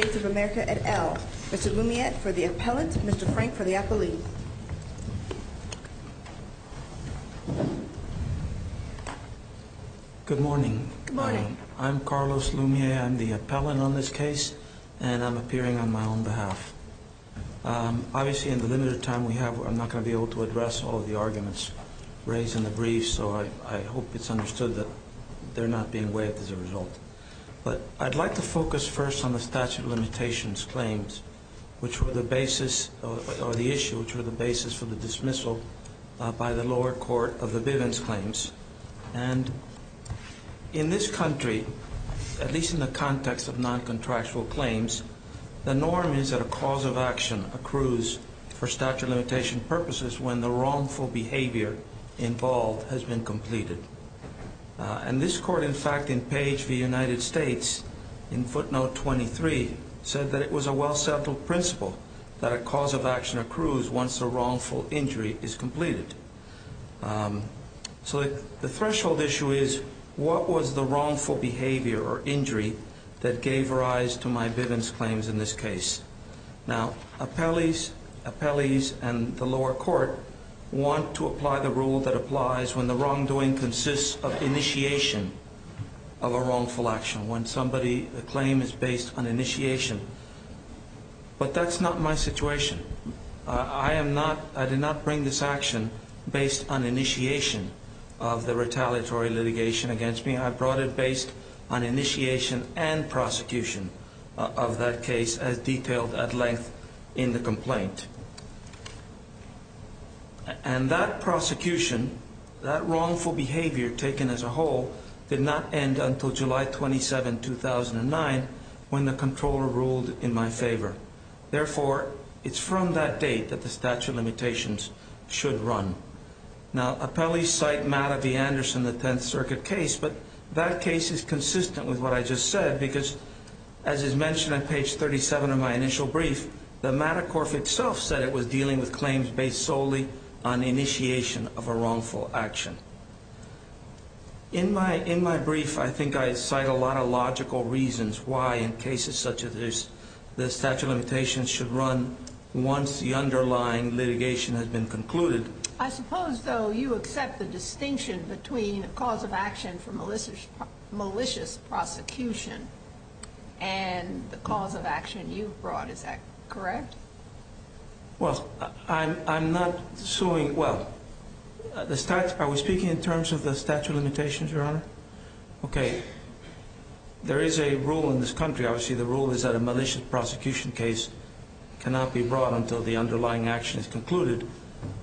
of America et al. Mr. Loumiet for the appellant, Mr. Frank for the appellee. Good morning. I'm Carlos Loumiet. I'm the appellant on this case and I'm appearing on my own behalf. Obviously, in the limited time we have, I'm not going to be able to address all of the arguments, raised in the brief, so I hope it's understood that they're not being waived as a result. But I'd like to focus first on the statute of limitations claims, which were the basis, or the issue, which were the basis for the dismissal by the lower court of the Bivens claims. And in this country, at least in the context of non-contractual claims, the norm is that a cause of action accrues for statute of limitation purposes when the wrongful behavior involved has been completed. And this court, in fact, in Page v. United States, in footnote 23, said that it was a well-settled principle that a cause of action accrues once the wrongful injury is completed. So the threshold issue is, what was the wrongful behavior or injury that gave rise to my Bivens claims in this case? Now, appellees and the lower court want to apply the rule that applies when the wrongdoing consists of initiation of a wrongful action, when a claim is based on initiation. But that's not my situation. I did not bring this action based on initiation of the retaliatory litigation against me. I brought it based on initiation and prosecution of that case as detailed at length in the complaint. And that prosecution, that wrongful behavior taken as a whole, did not end until July 27, 2009, when the Comptroller ruled in my favor. Therefore, it's from that date that the statute of limitations should run. Now, appellees cite Matta v. Anderson, the Tenth Circuit case, but that case is consistent with what I just said, because, as is mentioned on Page 37 of my initial brief, the Matta Corp itself said it was dealing with claims based solely on initiation of a wrongful action. In my brief, I think I cite a lot of logical reasons why, in cases such as this, the statute of limitations should run once the underlying litigation has been concluded. I suppose, though, you accept the distinction between a cause of action for malicious prosecution and the cause of action you brought. Is that correct? Well, I'm not suing – well, are we speaking in terms of the statute of limitations, Your Honor? Okay, there is a rule in this country, obviously the rule is that a malicious prosecution case cannot be brought until the underlying action is concluded.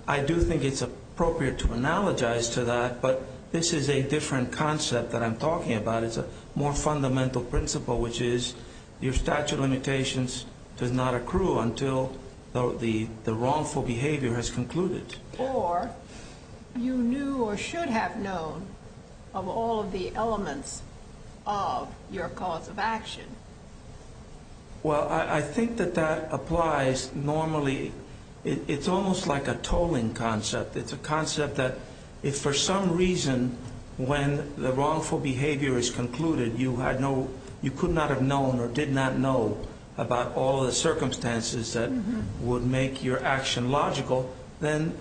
I do think it's appropriate to analogize to that, but this is a different concept that I'm talking about. It's a more fundamental principle, which is your statute of limitations does not accrue until the wrongful behavior has concluded. Or you knew or should have known of all of the elements of your cause of action. Well, I think that that applies normally – it's almost like a tolling concept. It's a concept that if for some reason, when the wrongful behavior is concluded, you could not have known or did not know about all of the circumstances that would make your action logical, then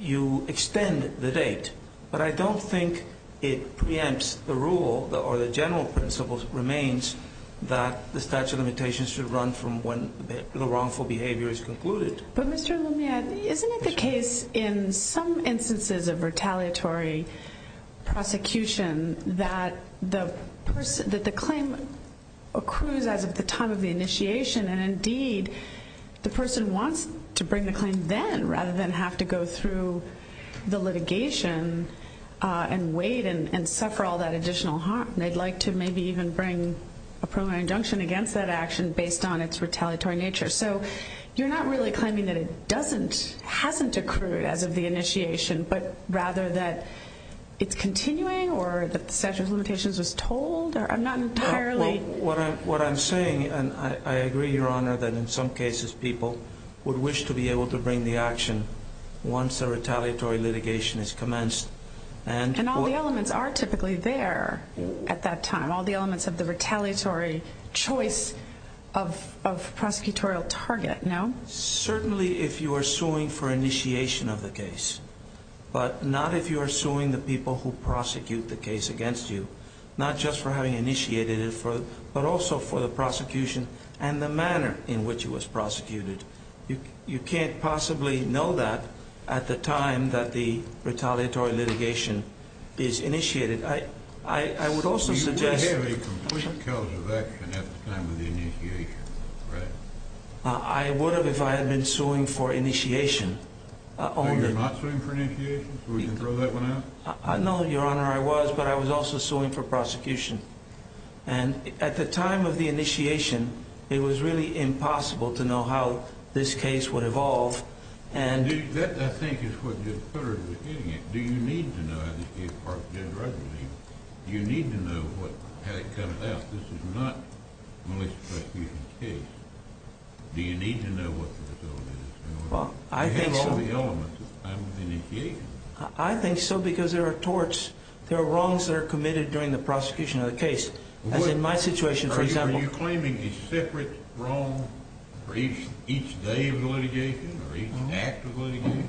you extend the date. But I don't think it preempts the rule, or the general principle remains, that the statute of limitations should run from when the wrongful behavior is concluded. But Mr. Lumiere, isn't it the case in some instances of retaliatory prosecution that the claim accrues as of the time of the initiation? And indeed, the person wants to bring the claim then, rather than have to go through the litigation and wait and suffer all that additional harm. They'd like to maybe even bring a preliminary injunction against that action based on its retaliatory nature. So, you're not really claiming that it hasn't accrued as of the initiation, but rather that it's continuing, or that the statute of limitations was told? What I'm saying, and I agree, Your Honor, that in some cases people would wish to be able to bring the action once the retaliatory litigation has commenced. And all the elements are typically there at that time, all the elements of the retaliatory choice of prosecutorial target, no? Certainly if you are suing for initiation of the case, but not if you are suing the people who prosecute the case against you. Not just for having initiated it, but also for the prosecution and the manner in which it was prosecuted. You can't possibly know that at the time that the retaliatory litigation is initiated. I would also suggest... You would have a complete clause of action at the time of the initiation, right? I would have if I had been suing for initiation only. So you're not suing for initiation, so we can throw that one out? No, Your Honor, I was, but I was also suing for prosecution. And at the time of the initiation, it was really impossible to know how this case would evolve, and... That, I think, is what you're putting at the beginning. Do you need to know how this case... Do you need to know how it comes out? This is not a malicious prosecution case. Do you need to know what the facility is? Well, I think so... You have all the elements at the time of the initiation. I think so because there are torts... There are wrongs that are committed during the prosecution of the case. As in my situation, for example... Are you claiming a separate wrong for each day of the litigation, or each act of litigation?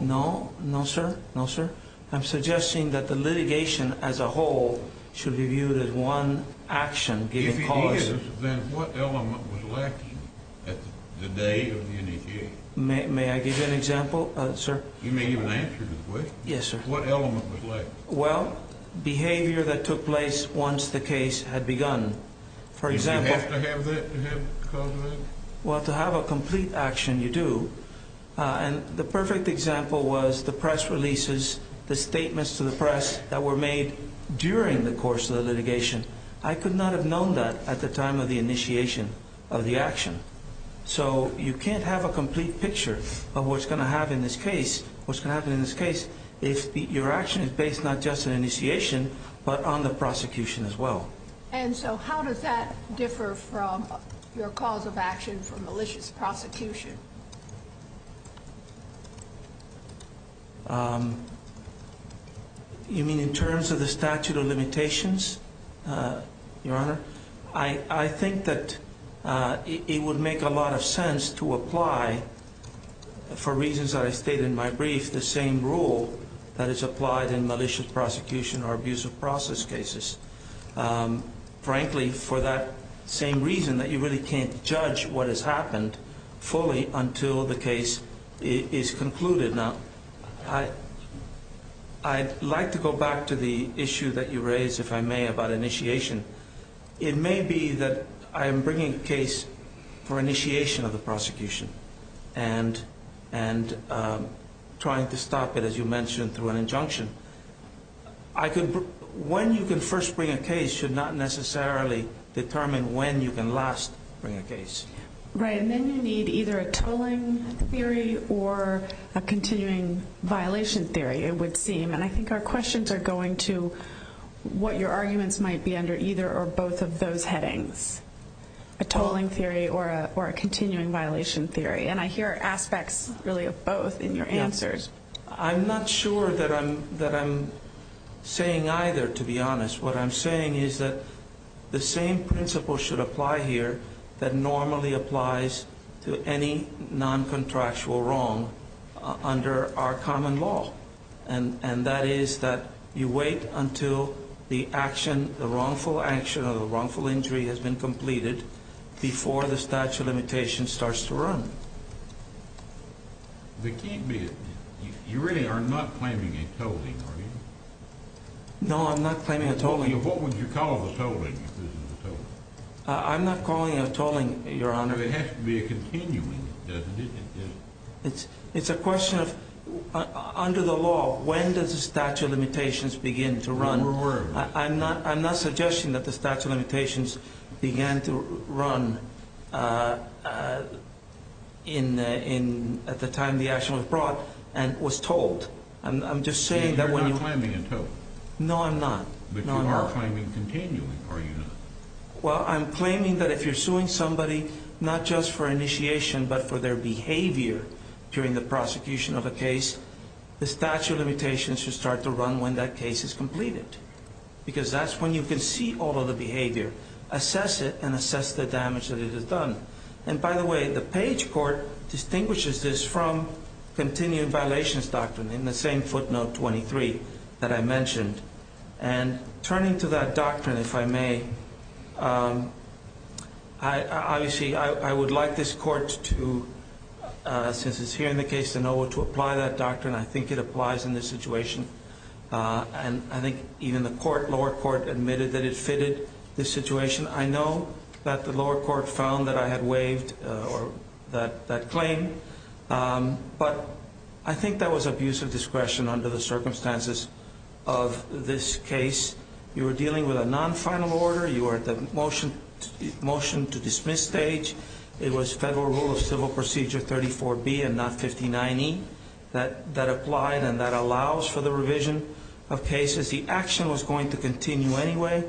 No, no, sir. No, sir. I'm suggesting that the litigation as a whole should be viewed as one action given cause. If it is, then what element was lacking at the day of the initiation? May I give you an example, sir? You may give an answer to the question. Yes, sir. What element was lacking? Well, behavior that took place once the case had begun. For example... Did you have to have that to have cause for that? Well, to have a complete action, you do. And the perfect example was the press releases, the statements to the press that were made during the course of the litigation. I could not have known that at the time of the initiation of the action. So you can't have a complete picture of what's going to happen in this case if your action is based not just on initiation, but on the prosecution as well. And so how does that differ from your cause of action for malicious prosecution? You mean in terms of the statute of limitations, Your Honor? I think that it would make a lot of sense to apply, for reasons that I stated in my brief, the same rule that is applied in malicious prosecution or abusive process cases. Frankly, for that same reason that you really can't judge what has happened fully until the case is concluded. I'd like to go back to the issue that you raised, if I may, about initiation. It may be that I am bringing a case for initiation of the prosecution and trying to stop it, as you mentioned, through an injunction. When you can first bring a case should not necessarily determine when you can last bring a case. Right, and then you need either a tolling theory or a continuing violation theory, it would seem. And I think our questions are going to what your arguments might be under either or both of those headings. A tolling theory or a continuing violation theory. And I hear aspects, really, of both in your answers. I'm not sure that I'm saying either, to be honest. What I'm saying is that the same principle should apply here that normally applies to any non-contractual wrong under our common law. And that is that you wait until the wrongful action or the wrongful injury has been completed before the statute of limitations starts to run. You really are not claiming a tolling, are you? No, I'm not claiming a tolling. What would you call the tolling if this is a tolling? I'm not calling it a tolling, Your Honor. It has to be a continuing, doesn't it? It's a question of, under the law, when does the statute of limitations begin to run? I'm not suggesting that the statute of limitations began to run at the time the action was brought and was tolled. You're not claiming a tolling. No, I'm not. But you are claiming continuing, are you not? Well, I'm claiming that if you're suing somebody not just for initiation but for their behavior during the prosecution of a case, the statute of limitations should start to run when that case is completed. Because that's when you can see all of the behavior, assess it, and assess the damage that it has done. And, by the way, the Page court distinguishes this from continuing violations doctrine in the same footnote 23 that I mentioned. And turning to that doctrine, if I may, obviously I would like this court to, since it's here in the case, to know what to apply that doctrine. I think it applies in this situation. And I think even the lower court admitted that it fitted this situation. I know that the lower court found that I had waived that claim. But I think that was abuse of discretion under the circumstances of this case. You were dealing with a non-final order. You were at the motion to dismiss stage. It was federal rule of civil procedure 34B and not 59E that applied and that allows for the revision of cases. The action was going to continue anyway.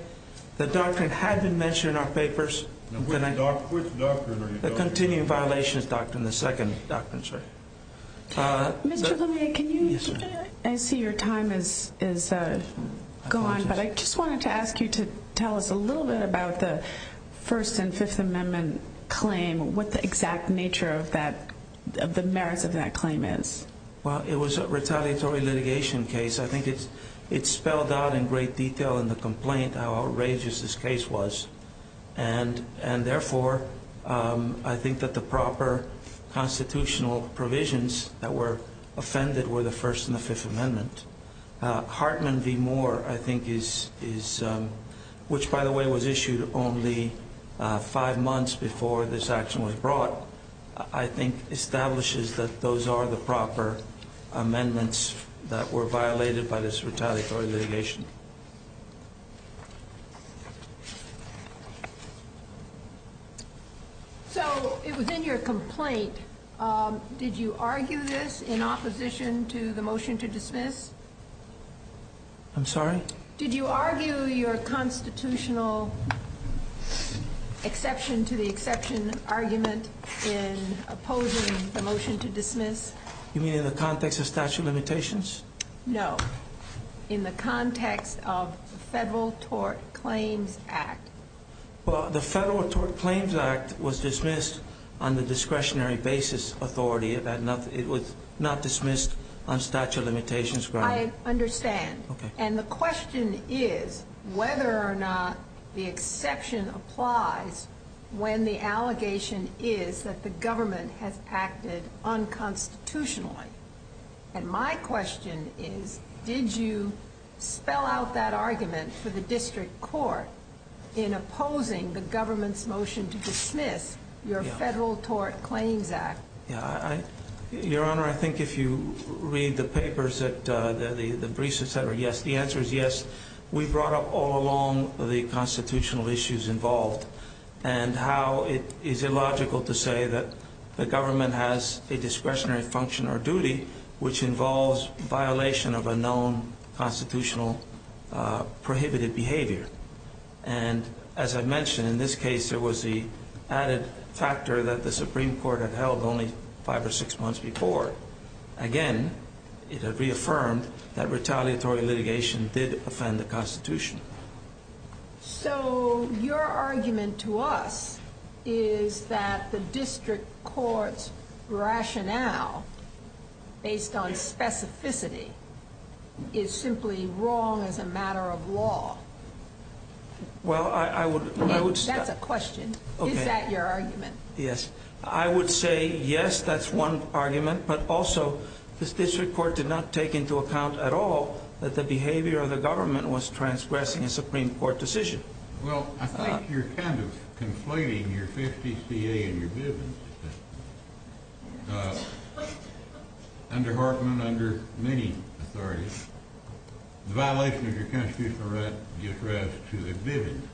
The doctrine had been mentioned in our papers. Which doctrine are you talking about? The continuing violations doctrine, the second doctrine, sir. Mr. Lumiere, I see your time has gone, but I just wanted to ask you to tell us a little bit about the First and Fifth Amendment claim, what the exact nature of the merits of that claim is. Well, it was a retaliatory litigation case. I think it spelled out in great detail in the complaint how outrageous this case was. And, therefore, I think that the proper constitutional provisions that were offended were the First and the Fifth Amendment. Hartman v. Moore, I think, which, by the way, was issued only five months before this action was brought, I think establishes that those are the proper amendments that were violated by this retaliatory litigation. So it was in your complaint. Did you argue this in opposition to the motion to dismiss? I'm sorry? Did you argue your constitutional exception to the exception argument in opposing the motion to dismiss? You mean in the context of statute of limitations? No. In the context of the Federal Tort Claims Act. Well, the Federal Tort Claims Act was dismissed on the discretionary basis authority. It was not dismissed on statute of limitations grounds. I understand. And the question is whether or not the exception applies when the allegation is that the government has acted unconstitutionally. And my question is, did you spell out that argument for the district court in opposing the government's motion to dismiss your Federal Tort Claims Act? Your Honor, I think if you read the papers, the briefs, etc., yes, the answer is yes. We brought up all along the constitutional issues involved and how it is illogical to say that the government has a discretionary function or duty which involves violation of a known constitutional prohibited behavior. And as I mentioned, in this case, there was the added factor that the Supreme Court had held only five or six months before. Again, it had reaffirmed that retaliatory litigation did offend the Constitution. So, your argument to us is that the district court's rationale based on specificity is simply wrong as a matter of law. Well, I would... That's a question. Is that your argument? Yes. I would say yes, that's one argument. But also, this district court did not take into account at all that the behavior of the government was transgressing a Supreme Court decision. Well, I think you're kind of conflating your FTCA and your Bivens. Under Hartman, under many authorities, the violation of your constitutional right gives rise to a Bivens motion.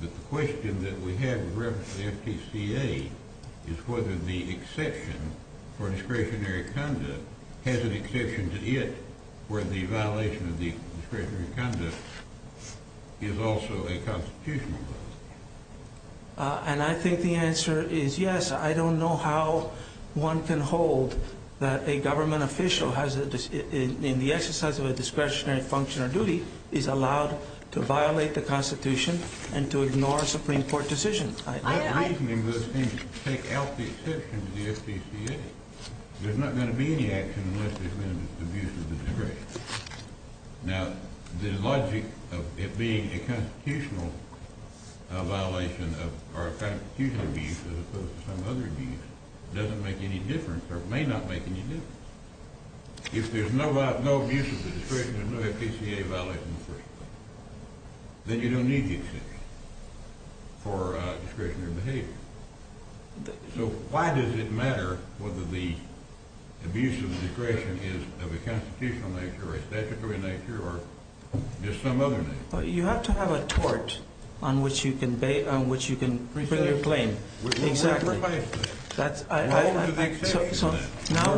But the question that we have with reference to the FTCA is whether the exception for discretionary conduct has an exception to it where the violation of the discretionary conduct is also a constitutional violation. And I think the answer is yes. I don't know how one can hold that a government official in the exercise of a discretionary function or duty is allowed to violate the Constitution and to ignore a Supreme Court decision. That reasoning would take out the exception to the FTCA. There's not going to be any action unless there's been an abuse of discretion. Now, the logic of it being a constitutional violation or a constitutional abuse as opposed to some other abuse doesn't make any difference or may not make any difference. If there's no abuse of discretion or no FTCA violation, then you don't need the exception for discretionary behavior. So why does it matter whether the abuse of discretion is of a constitutional nature or a statutory nature or just some other nature? You have to have a tort on which you can bring your claim. Exactly. Now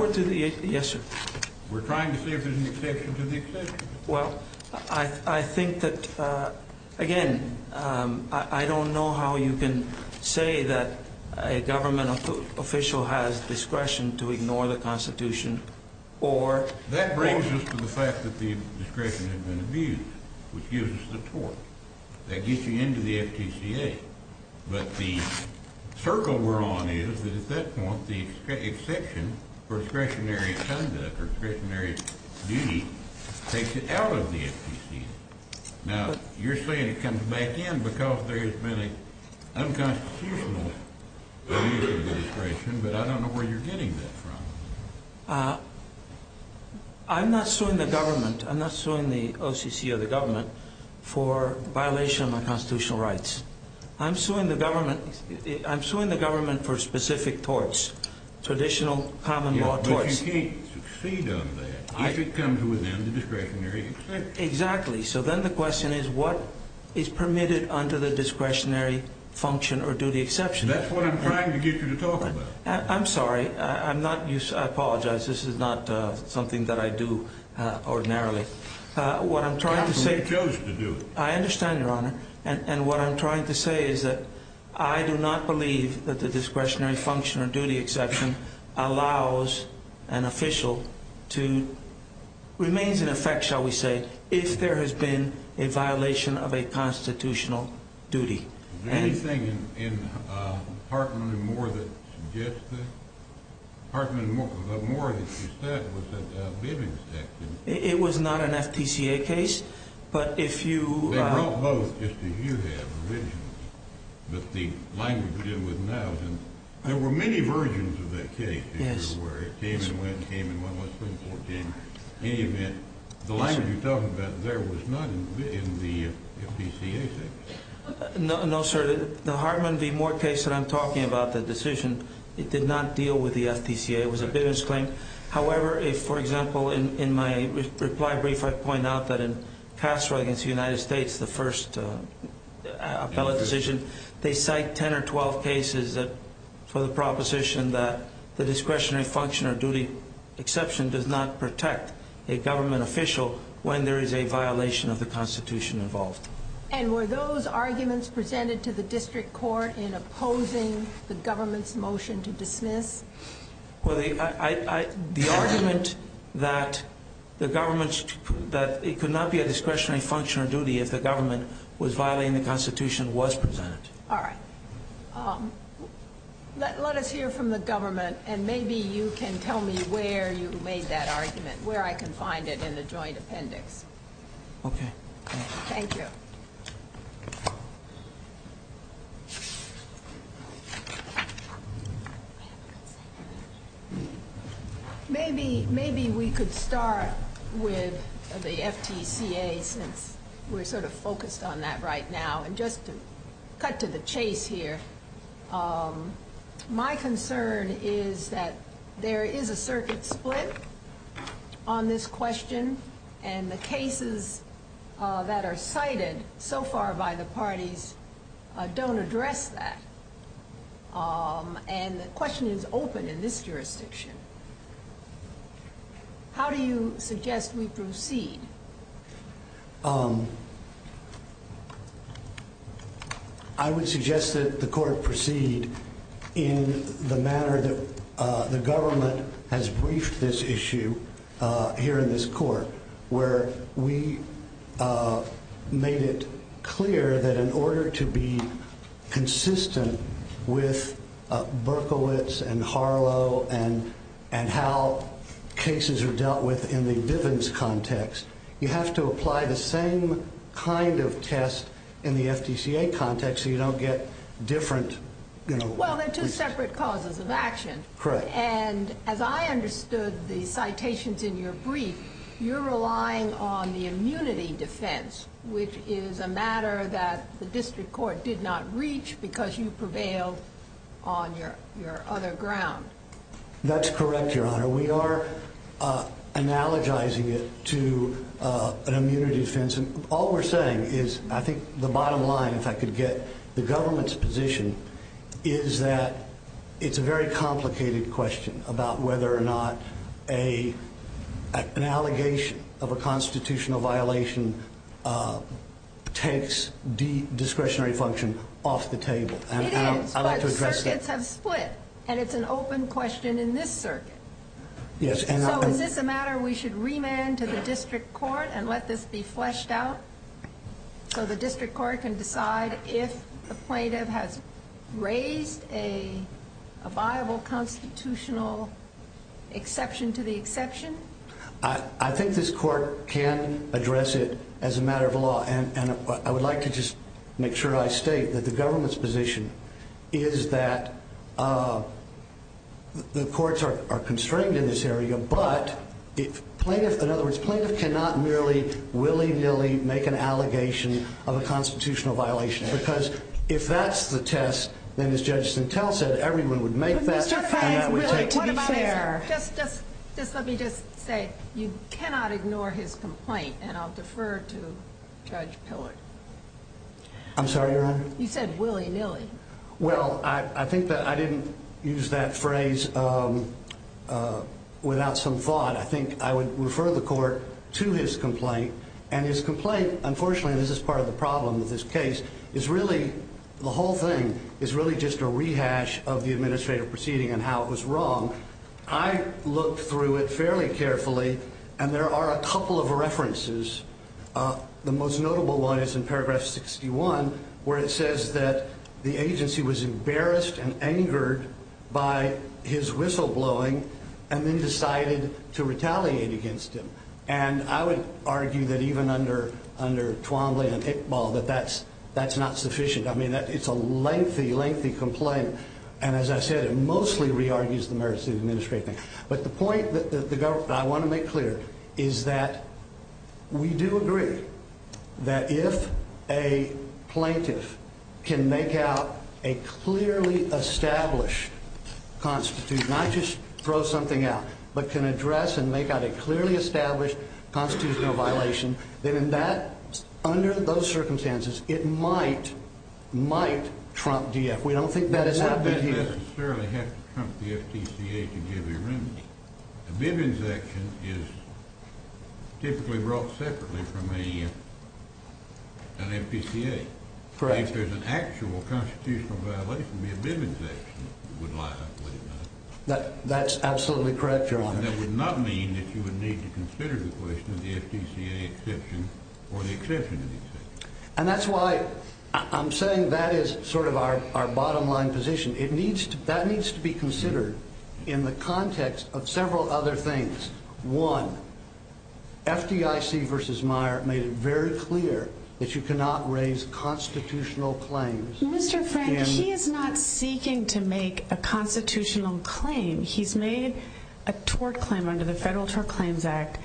we're to the exception. Yes, sir. We're trying to see if there's an exception to the exception. Well, I think that, again, I don't know how you can say that a government official has discretion to ignore the Constitution or— That brings us to the fact that the discretion has been abused, which gives us the tort. That gets you into the FTCA. But the circle we're on is that at that point the exception for discretionary conduct or discretionary duty takes it out of the FTCA. Now, you're saying it comes back in because there has been an unconstitutional abuse of discretion, but I don't know where you're getting that from. I'm not suing the government. I'm not suing the OCC or the government for violation of my constitutional rights. I'm suing the government for specific torts, traditional common law torts. Yes, but you can't succeed on that if it comes within the discretionary exception. Exactly. So then the question is what is permitted under the discretionary function or duty exception? That's what I'm trying to get you to talk about. I'm sorry. I'm not—I apologize. This is not something that I do ordinarily. What I'm trying to say— Counsel, you chose to do it. I understand, Your Honor. And what I'm trying to say is that I do not believe that the discretionary function or duty exception allows an official to—remains in effect, shall we say, if there has been a violation of a constitutional duty. Is there anything in Hartman & Moore that suggests that? Hartman & Moore, if you said, was that a living section. It was not an FPCA case, but if you— They brought both, just as you have, originally. But the language you're dealing with now is in—there were many versions of that case, if you're aware. It came and went and came and went. In any event, the language you're talking about there was not in the FPCA section. No, sir. The Hartman v. Moore case that I'm talking about, the decision, it did not deal with the FPCA. It was a business claim. However, if, for example, in my reply brief I point out that in Castro against the United States, the first appellate decision, they cite 10 or 12 cases for the proposition that the discretionary function or duty exception does not protect a government official when there is a violation of the Constitution involved. And were those arguments presented to the district court in opposing the government's motion to dismiss? Well, the argument that it could not be a discretionary function or duty if the government was violating the Constitution was presented. All right. Let us hear from the government, and maybe you can tell me where you made that argument, where I can find it in the joint appendix. Okay. Thank you. Maybe we could start with the FPCA since we're sort of focused on that right now, and just to cut to the chase here. My concern is that there is a circuit split on this question, and the cases that are cited so far by the parties don't address that. And the question is open in this jurisdiction. How do you suggest we proceed? I would suggest that the court proceed in the manner that the government has briefed this issue here in this court, where we made it clear that in order to be consistent with Berkowitz and Harlow and how cases are dealt with in the Bivens context, you have to apply the same kind of test in the FPCA context so you don't get different, you know. Well, they're two separate causes of action. Correct. And as I understood the citations in your brief, you're relying on the immunity defense, which is a matter that the district court did not reach because you prevailed on your other ground. That's correct, Your Honor. We are analogizing it to an immunity defense. All we're saying is I think the bottom line, if I could get the government's position, is that it's a very complicated question about whether or not an allegation of a constitutional violation takes discretionary function off the table. It is, but circuits have split, and it's an open question in this circuit. Yes. So is this a matter we should remand to the district court and let this be fleshed out so the district court can decide if the plaintiff has raised a viable constitutional exception to the exception? I think this court can address it as a matter of law, and I would like to just make sure I state that the government's position is that the courts are constrained in this area, but if plaintiff, in other words, plaintiff cannot merely willy-nilly make an allegation of a constitutional violation because if that's the test, then as Judge Stentell said, everyone would make that, and that would take place. Just let me just say you cannot ignore his complaint, and I'll defer to Judge Pillard. I'm sorry, Your Honor? You said willy-nilly. Well, I think that I didn't use that phrase without some thought. I think I would refer the court to his complaint, and his complaint, unfortunately, and this is part of the problem with this case, is really the whole thing is really just a rehash of the administrative proceeding and how it was wrong. I looked through it fairly carefully, and there are a couple of references. The most notable one is in paragraph 61 where it says that the agency was embarrassed and angered by his whistleblowing and then decided to retaliate against him, and I would argue that even under Twombly and Iqbal that that's not sufficient. I mean, it's a lengthy, lengthy complaint, and as I said, it mostly re-argues the merits of the administrative thing, but the point that I want to make clear is that we do agree that if a plaintiff can make out a clearly established constitution, not just throw something out, but can address and make out a clearly established constitutional violation, then under those circumstances, it might trump DF. We don't think that has happened here. It doesn't necessarily have to trump the FTCA to give you a remedy. A bibb insection is typically brought separately from an FPCA. Correct. If there's an actual constitutional violation, a bibb injection would line up with it. That's absolutely correct, Your Honor. And that would not mean that you would need to consider the question of the FTCA exception or the exemption. And that's why I'm saying that is sort of our bottom line position. That needs to be considered in the context of several other things. One, FDIC v. Meyer made it very clear that you cannot raise constitutional claims. Mr. Frank, he is not seeking to make a constitutional claim. He's made a tort claim under the Federal Tort Claims Act,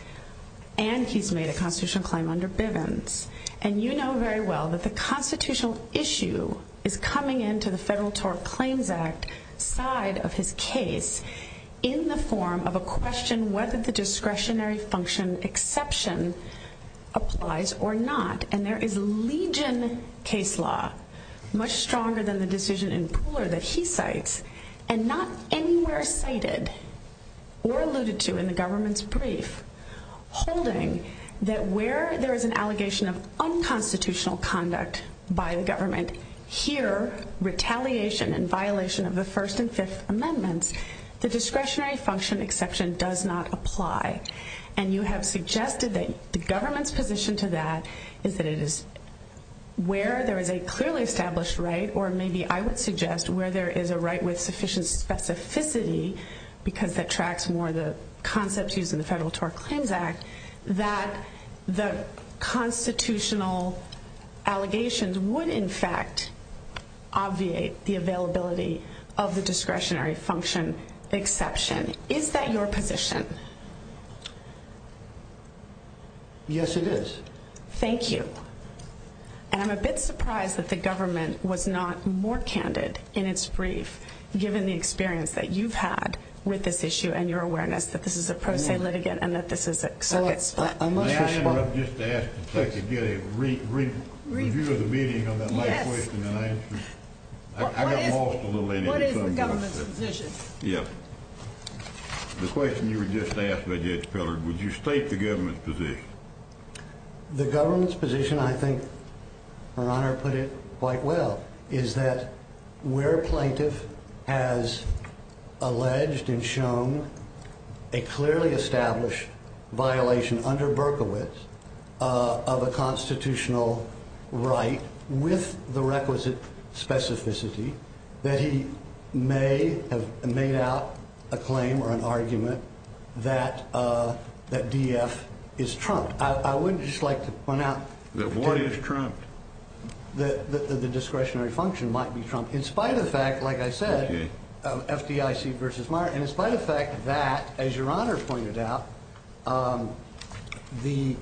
and he's made a constitutional claim under Bibbins. And you know very well that the constitutional issue is coming into the Federal Tort Claims Act side of his case in the form of a question whether the discretionary function exception applies or not. And there is legion case law, much stronger than the decision in Pooler that he cites, and not anywhere cited or alluded to in the government's brief, holding that where there is an allegation of unconstitutional conduct by the government, here, retaliation and violation of the First and Fifth Amendments, the discretionary function exception does not apply. And you have suggested that the government's position to that is that it is where there is a clearly established right, or maybe I would suggest where there is a right with sufficient specificity, because that tracks more the concepts used in the Federal Tort Claims Act, that the constitutional allegations would, in fact, obviate the availability of the discretionary function exception. Is that your position? Yes, it is. Thank you. And I'm a bit surprised that the government was not more candid in its brief, given the experience that you've had with this issue and your awareness that this is a pro se litigant and that this is a circuit split. May I interrupt just to ask if I could get a review of the meeting on that? Yes. I got lost a little later. What is the government's position? Yes. The question you were just asked by Judge Pillard, would you state the government's position? The government's position, I think Her Honor put it quite well, is that where a plaintiff has alleged and shown a clearly established violation under Berkowitz of a constitutional right with the requisite specificity, that he may have made out a claim or an argument that DF is trumped. I would just like to point out that the discretionary function might be trumped, in spite of the fact, like I said, FDIC versus Meijer, in spite of the fact that, as Your Honor pointed out, the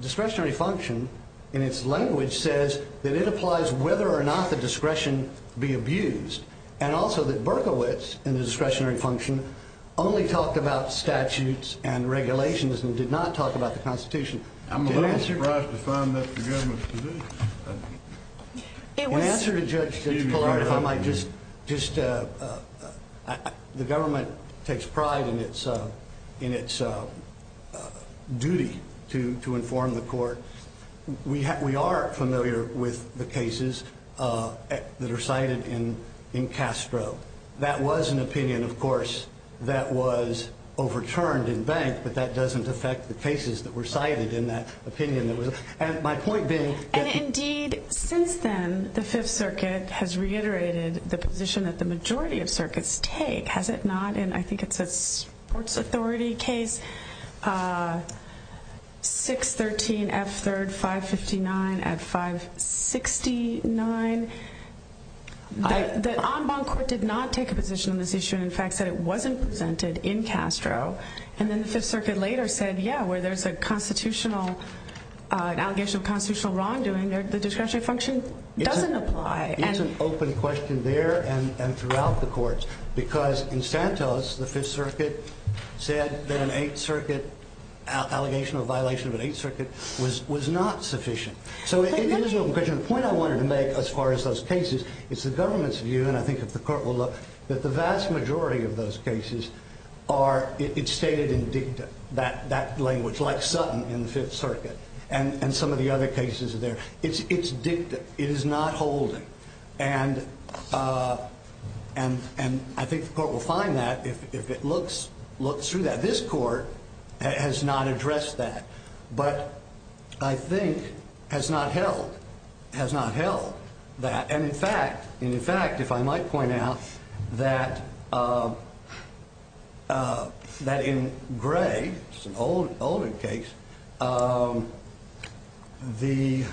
discretionary function in its language says that it applies whether or not the discretion be abused and also that Berkowitz in the discretionary function only talked about statutes and regulations and did not talk about the Constitution. I'm a little surprised to find that the government's position. In answer to Judge Pillard, the government takes pride in its duty to inform the court. We are familiar with the cases that are cited in Castro. That was an opinion, of course, that was overturned in Bank, but that doesn't affect the cases that were cited in that opinion. And indeed, since then, the Fifth Circuit has reiterated the position that the majority of circuits take. Has it not? And I think it's a sports authority case, 613 F3rd 559 at 569. The en banc court did not take a position on this issue and, in fact, said it wasn't presented in Castro. And then the Fifth Circuit later said, yeah, where there's an allegation of constitutional wrongdoing, the discretionary function doesn't apply. It's an open question there and throughout the courts because in Santos, the Fifth Circuit said that an Eighth Circuit allegation of violation of an Eighth Circuit was not sufficient. So it is an open question. The point I wanted to make as far as those cases is the government's view, and I think if the court will look, that the vast majority of those cases are stated in dicta, that language like Sutton in the Fifth Circuit and some of the other cases there. It's dicta. It is not holding. And I think the court will find that if it looks through that. This court has not addressed that, but I think has not held that. And, in fact, if I might point out that in Gray, which is an older case, in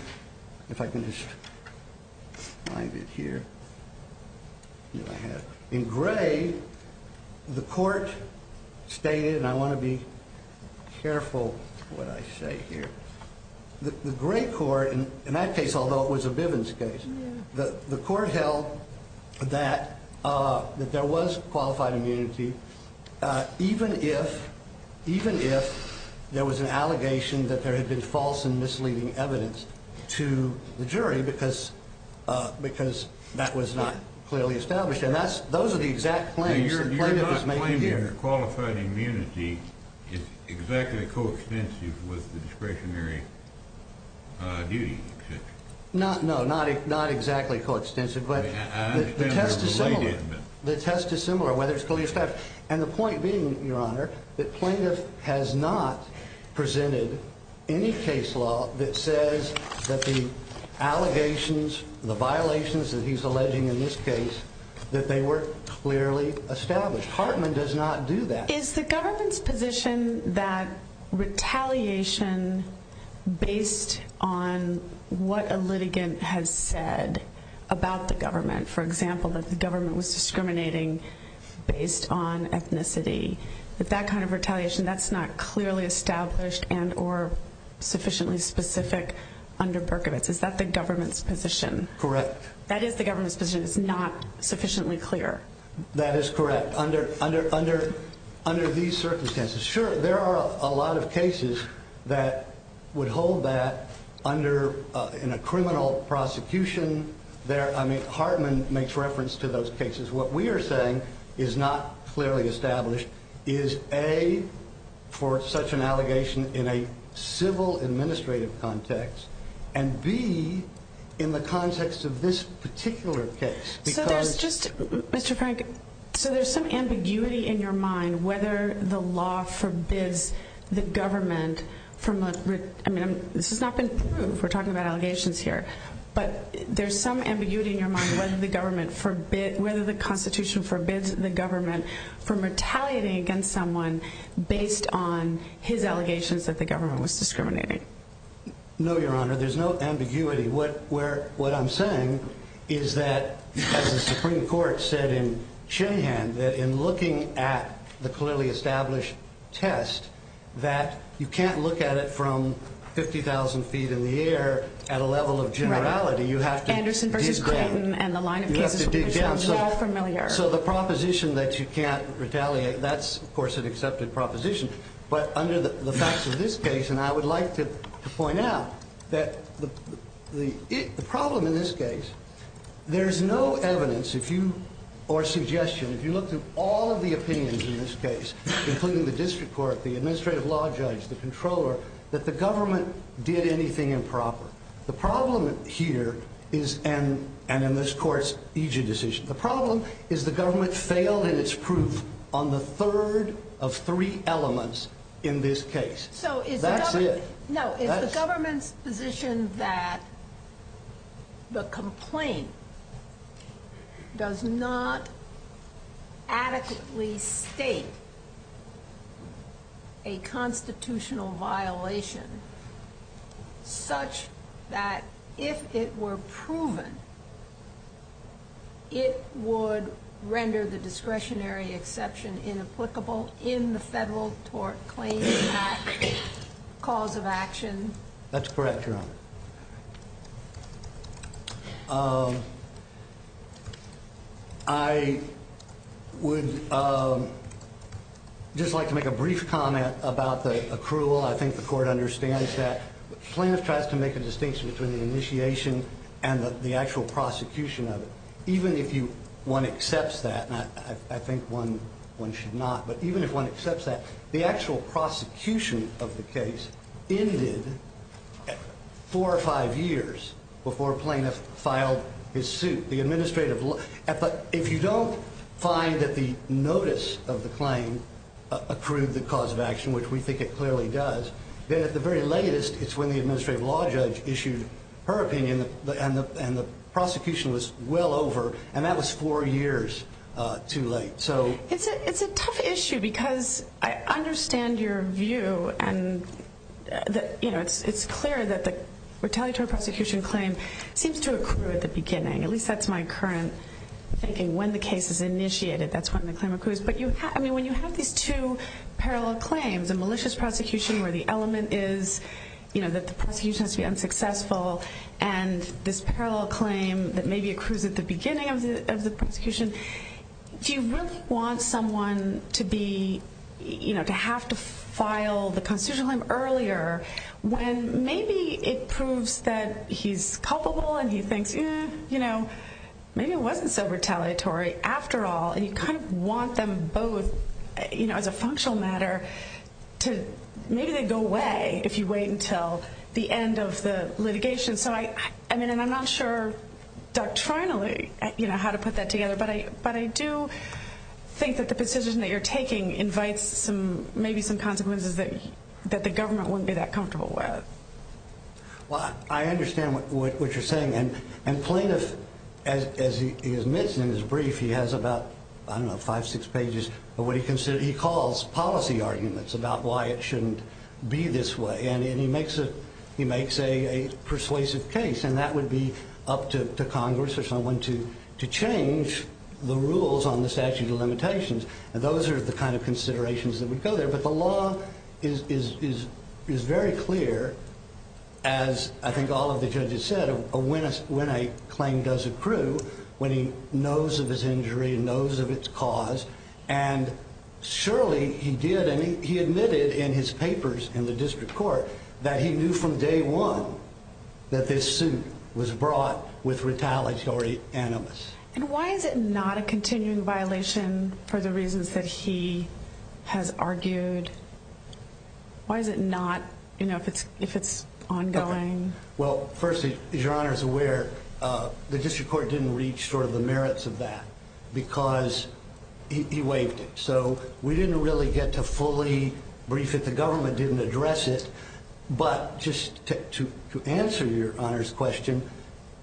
Gray the court stated, and I want to be careful what I say here, the Gray court, in that case, although it was a Bivens case, the court held that there was qualified immunity even if there was an allegation that there had been false and misleading evidence to the jury because that was not clearly established. And those are the exact claims. You're not claiming that qualified immunity is exactly coextensive with the discretionary duty. No, not exactly coextensive, but the test is similar. The test is similar whether it's clearly established. And the point being, Your Honor, that plaintiff has not presented any case law that says that the allegations, the violations that he's alleging in this case, that they were clearly established. Hartman does not do that. Is the government's position that retaliation based on what a litigant has said about the government, for example, that the government was discriminating based on ethnicity, that that kind of retaliation, that's not clearly established and or sufficiently specific under Berkovitz? Is that the government's position? Correct. That is the government's position. It's not sufficiently clear. That is correct. Under these circumstances, sure, there are a lot of cases that would hold that in a criminal prosecution. I mean, Hartman makes reference to those cases. What we are saying is not clearly established is A, for such an allegation in a civil administrative context, and B, in the context of this particular case. So there's just, Mr. Frank, so there's some ambiguity in your mind whether the law forbids the government from, I mean, this has not been proved. We're talking about allegations here. But there's some ambiguity in your mind whether the constitution forbids the government from retaliating against someone based on his allegations that the government was discriminating. No, Your Honor. There's no ambiguity. What I'm saying is that the Supreme Court said in Shanahan that in looking at the clearly established test, that you can't look at it from 50,000 feet in the air at a level of generality. You have to dig down. Anderson versus Clayton and the line of cases. You have to dig down. So the proposition that you can't retaliate, that's, of course, an accepted proposition. But under the facts of this case, and I would like to point out that the problem in this case, there's no evidence or suggestion, if you look through all of the opinions in this case, including the district court, the administrative law judge, the controller, that the government did anything improper. The problem here is, and in this court's EJ decision, the problem is the government failed in its proof on the third of three elements in this case. That's it. So is the government's position that the complaint does not adequately state a constitutional violation such that if it were proven, it would render the discretionary exception inapplicable in the federal tort claims act cause of action? That's correct, Your Honor. I would just like to make a brief comment about the accrual. I think the court understands that. Plaintiff tries to make a distinction between the initiation and the actual prosecution of it. Even if one accepts that, and I think one should not, but even if one accepts that, the actual prosecution of the case ended four or five years before plaintiff filed his suit. If you don't find that the notice of the claim accrued the cause of action, which we think it clearly does, then at the very latest, it's when the administrative law judge issued her opinion, and the prosecution was well over, and that was four years too late. It's a tough issue because I understand your view, and it's clear that the retaliatory prosecution claim seems to accrue at the beginning. At least that's my current thinking. When the case is initiated, that's when the claim accrues. But when you have these two parallel claims, a malicious prosecution where the element is that the prosecution has to be unsuccessful, and this parallel claim that maybe accrues at the beginning of the prosecution, do you really want someone to have to file the constitutional claim earlier when maybe it proves that he's culpable and he thinks, you know, maybe it wasn't so retaliatory after all, and you kind of want them both, you know, as a functional matter to, maybe they go away if you wait until the end of the litigation. So I mean, and I'm not sure doctrinally, you know, how to put that together, but I do think that the position that you're taking invites maybe some consequences that the government wouldn't be that comfortable with. Well, I understand what you're saying, and plaintiff, as he admits in his brief, he has about, I don't know, five, six pages, but what he calls policy arguments about why it shouldn't be this way, and he makes a persuasive case, and that would be up to Congress or someone to change the rules on the statute of limitations, and those are the kind of considerations that would go there, but the law is very clear, as I think all of the judges said, when a claim does accrue, when he knows of his injury and knows of its cause, and surely he did, and he admitted in his papers in the district court that he knew from day one that this suit was brought with retaliatory animus. And why is it not a continuing violation for the reasons that he has argued? Why is it not, you know, if it's ongoing? Well, firstly, as Your Honor is aware, the district court didn't reach sort of the merits of that because he waived it, so we didn't really get to fully brief it. The government didn't address it, but just to answer Your Honor's question,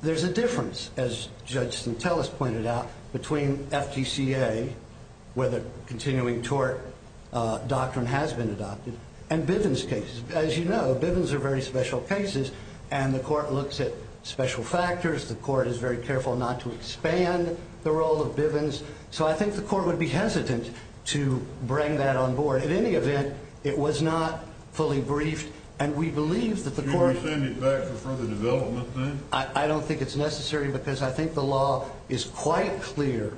there's a difference, as Judge Stantelis pointed out, between FTCA, where the continuing tort doctrine has been adopted, and Bivens cases. As you know, Bivens are very special cases, and the court looks at special factors. The court is very careful not to expand the role of Bivens, so I think the court would be hesitant to bring that on board. At any event, it was not fully briefed, and we believe that the court— Can we send it back for further development, then? I don't think it's necessary because I think the law is quite clear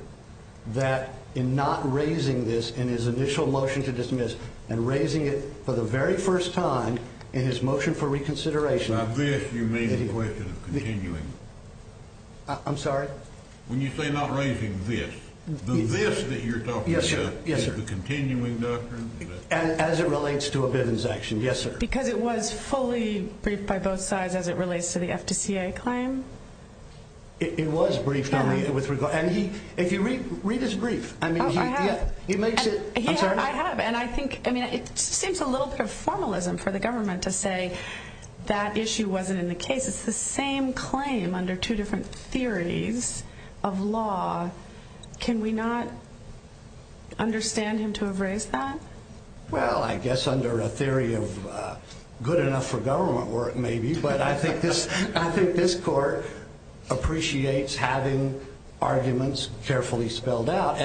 that in not raising this in his initial motion to dismiss and raising it for the very first time in his motion for reconsideration— By this, you mean the question of continuing? I'm sorry? When you say not raising this, the this that you're talking about is the continuing doctrine? As it relates to a Bivens action, yes, sir. Because it was fully briefed by both sides as it relates to the FTCA claim? It was briefed, and if you read his brief, I mean, he makes it— I'm sorry? I have, and I think—I mean, it seems a little bit of formalism for the government to say that issue wasn't in the case. It's the same claim under two different theories of law. Can we not understand him to have raised that? Well, I guess under a theory of good enough for government work, maybe, but I think this court appreciates having arguments carefully spelled out.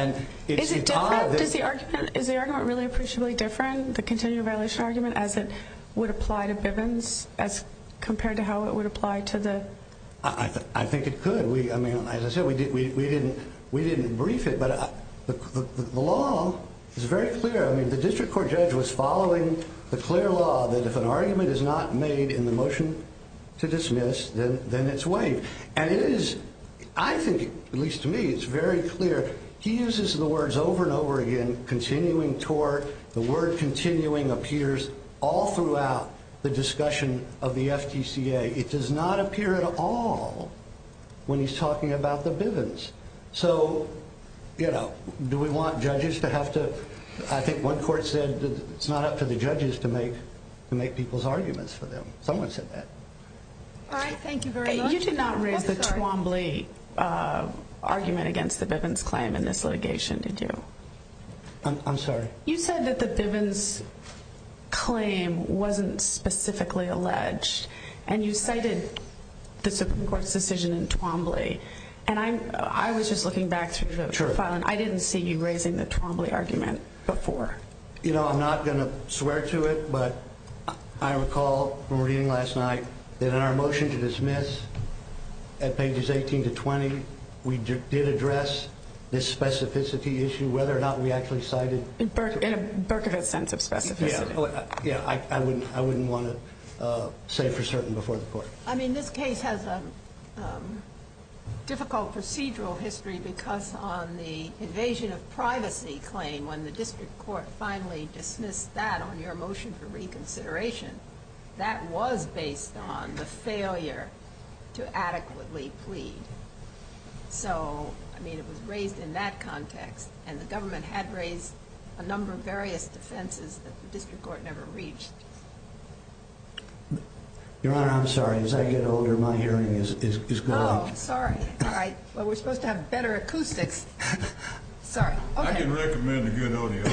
Is the argument really appreciably different, the continuing violation argument, as it would apply to Bivens as compared to how it would apply to the— I think it could. I mean, as I said, we didn't brief it, but the law is very clear. I mean, the district court judge was following the clear law that if an argument is not made in the motion to dismiss, then it's waived, and it is—I think, at least to me, it's very clear. He uses the words over and over again, continuing tort. The word continuing appears all throughout the discussion of the FTCA. It does not appear at all when he's talking about the Bivens. So, you know, do we want judges to have to—I think one court said it's not up to the judges to make people's arguments for them. Someone said that. All right. Thank you very much. You did not raise the Twombly argument against the Bivens claim in this litigation, did you? I'm sorry? You said that the Bivens claim wasn't specifically alleged, and you cited the Supreme Court's decision in Twombly. And I was just looking back through the file, and I didn't see you raising the Twombly argument before. You know, I'm not going to swear to it, but I recall from reading last night that in our motion to dismiss at pages 18 to 20, we did address this specificity issue, whether or not we actually cited— In a Berkovitz sense of specificity. Yeah. I wouldn't want to say for certain before the court. I mean, this case has a difficult procedural history because on the invasion of privacy claim, when the district court finally dismissed that on your motion for reconsideration, that was based on the failure to adequately plead. So, I mean, it was raised in that context, and the government had raised a number of various defenses that the district court never reached. Your Honor, I'm sorry. As I get older, my hearing is growing. Oh, sorry. All right. Well, we're supposed to have better acoustics. Sorry. I can recommend a good audio.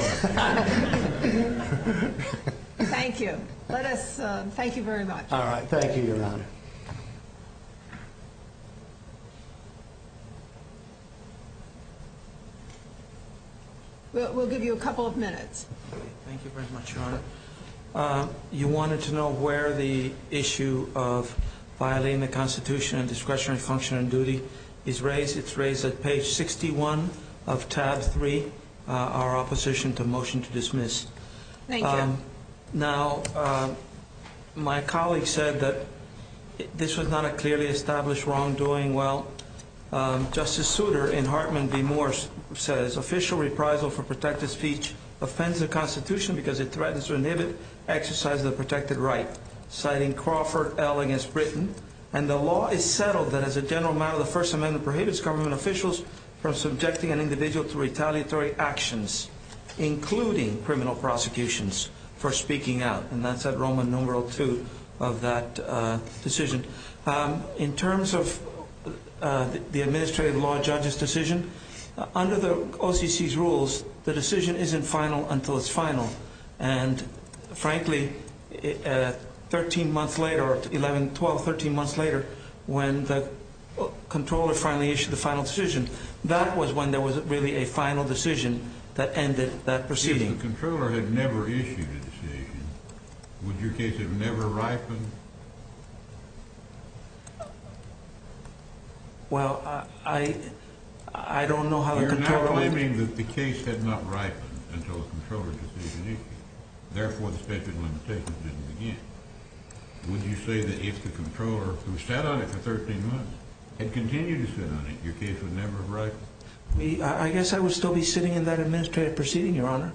Thank you. Let us—thank you very much. All right. Thank you, Your Honor. We'll give you a couple of minutes. Thank you very much, Your Honor. You wanted to know where the issue of violating the Constitution and discretionary function and duty is raised. It's raised at page 61 of tab 3, our opposition to motion to dismiss. Thank you. Now, my colleague said that this was not a clearly established wrongdoing. Justice Souter, in Hartman v. Moore, says, And that's at Roman numeral 2 of that decision. In terms of the administrative law judge's decision, under the OCC's rules, the decision isn't final until it's final. And, frankly, 13 months later, or 11, 12, 13 months later, when the comptroller finally issued the final decision, that was when there was really a final decision that ended that proceeding. If the comptroller had never issued a decision, would your case have never ripened? Well, I don't know how the comptroller would... You're now claiming that the case had not ripened until the comptroller had issued the decision. Therefore, the statute of limitations didn't begin. Would you say that if the comptroller, who sat on it for 13 months, had continued to sit on it, your case would never have ripened? I guess I would still be sitting in that administrative proceeding, Your Honor.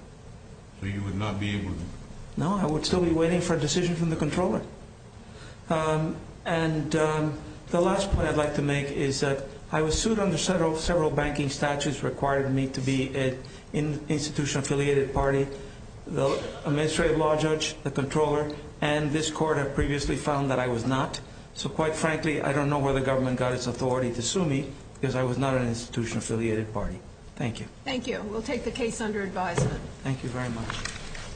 So you would not be able to... No, I would still be waiting for a decision from the comptroller. And the last point I'd like to make is that I was sued under several banking statutes that required me to be an institution affiliated party. The administrative law judge, the comptroller, and this court have previously found that I was not. So, quite frankly, I don't know where the government got its authority to sue me because I was not an institution affiliated party. Thank you. Thank you. We'll take the case under advisement. Thank you very much.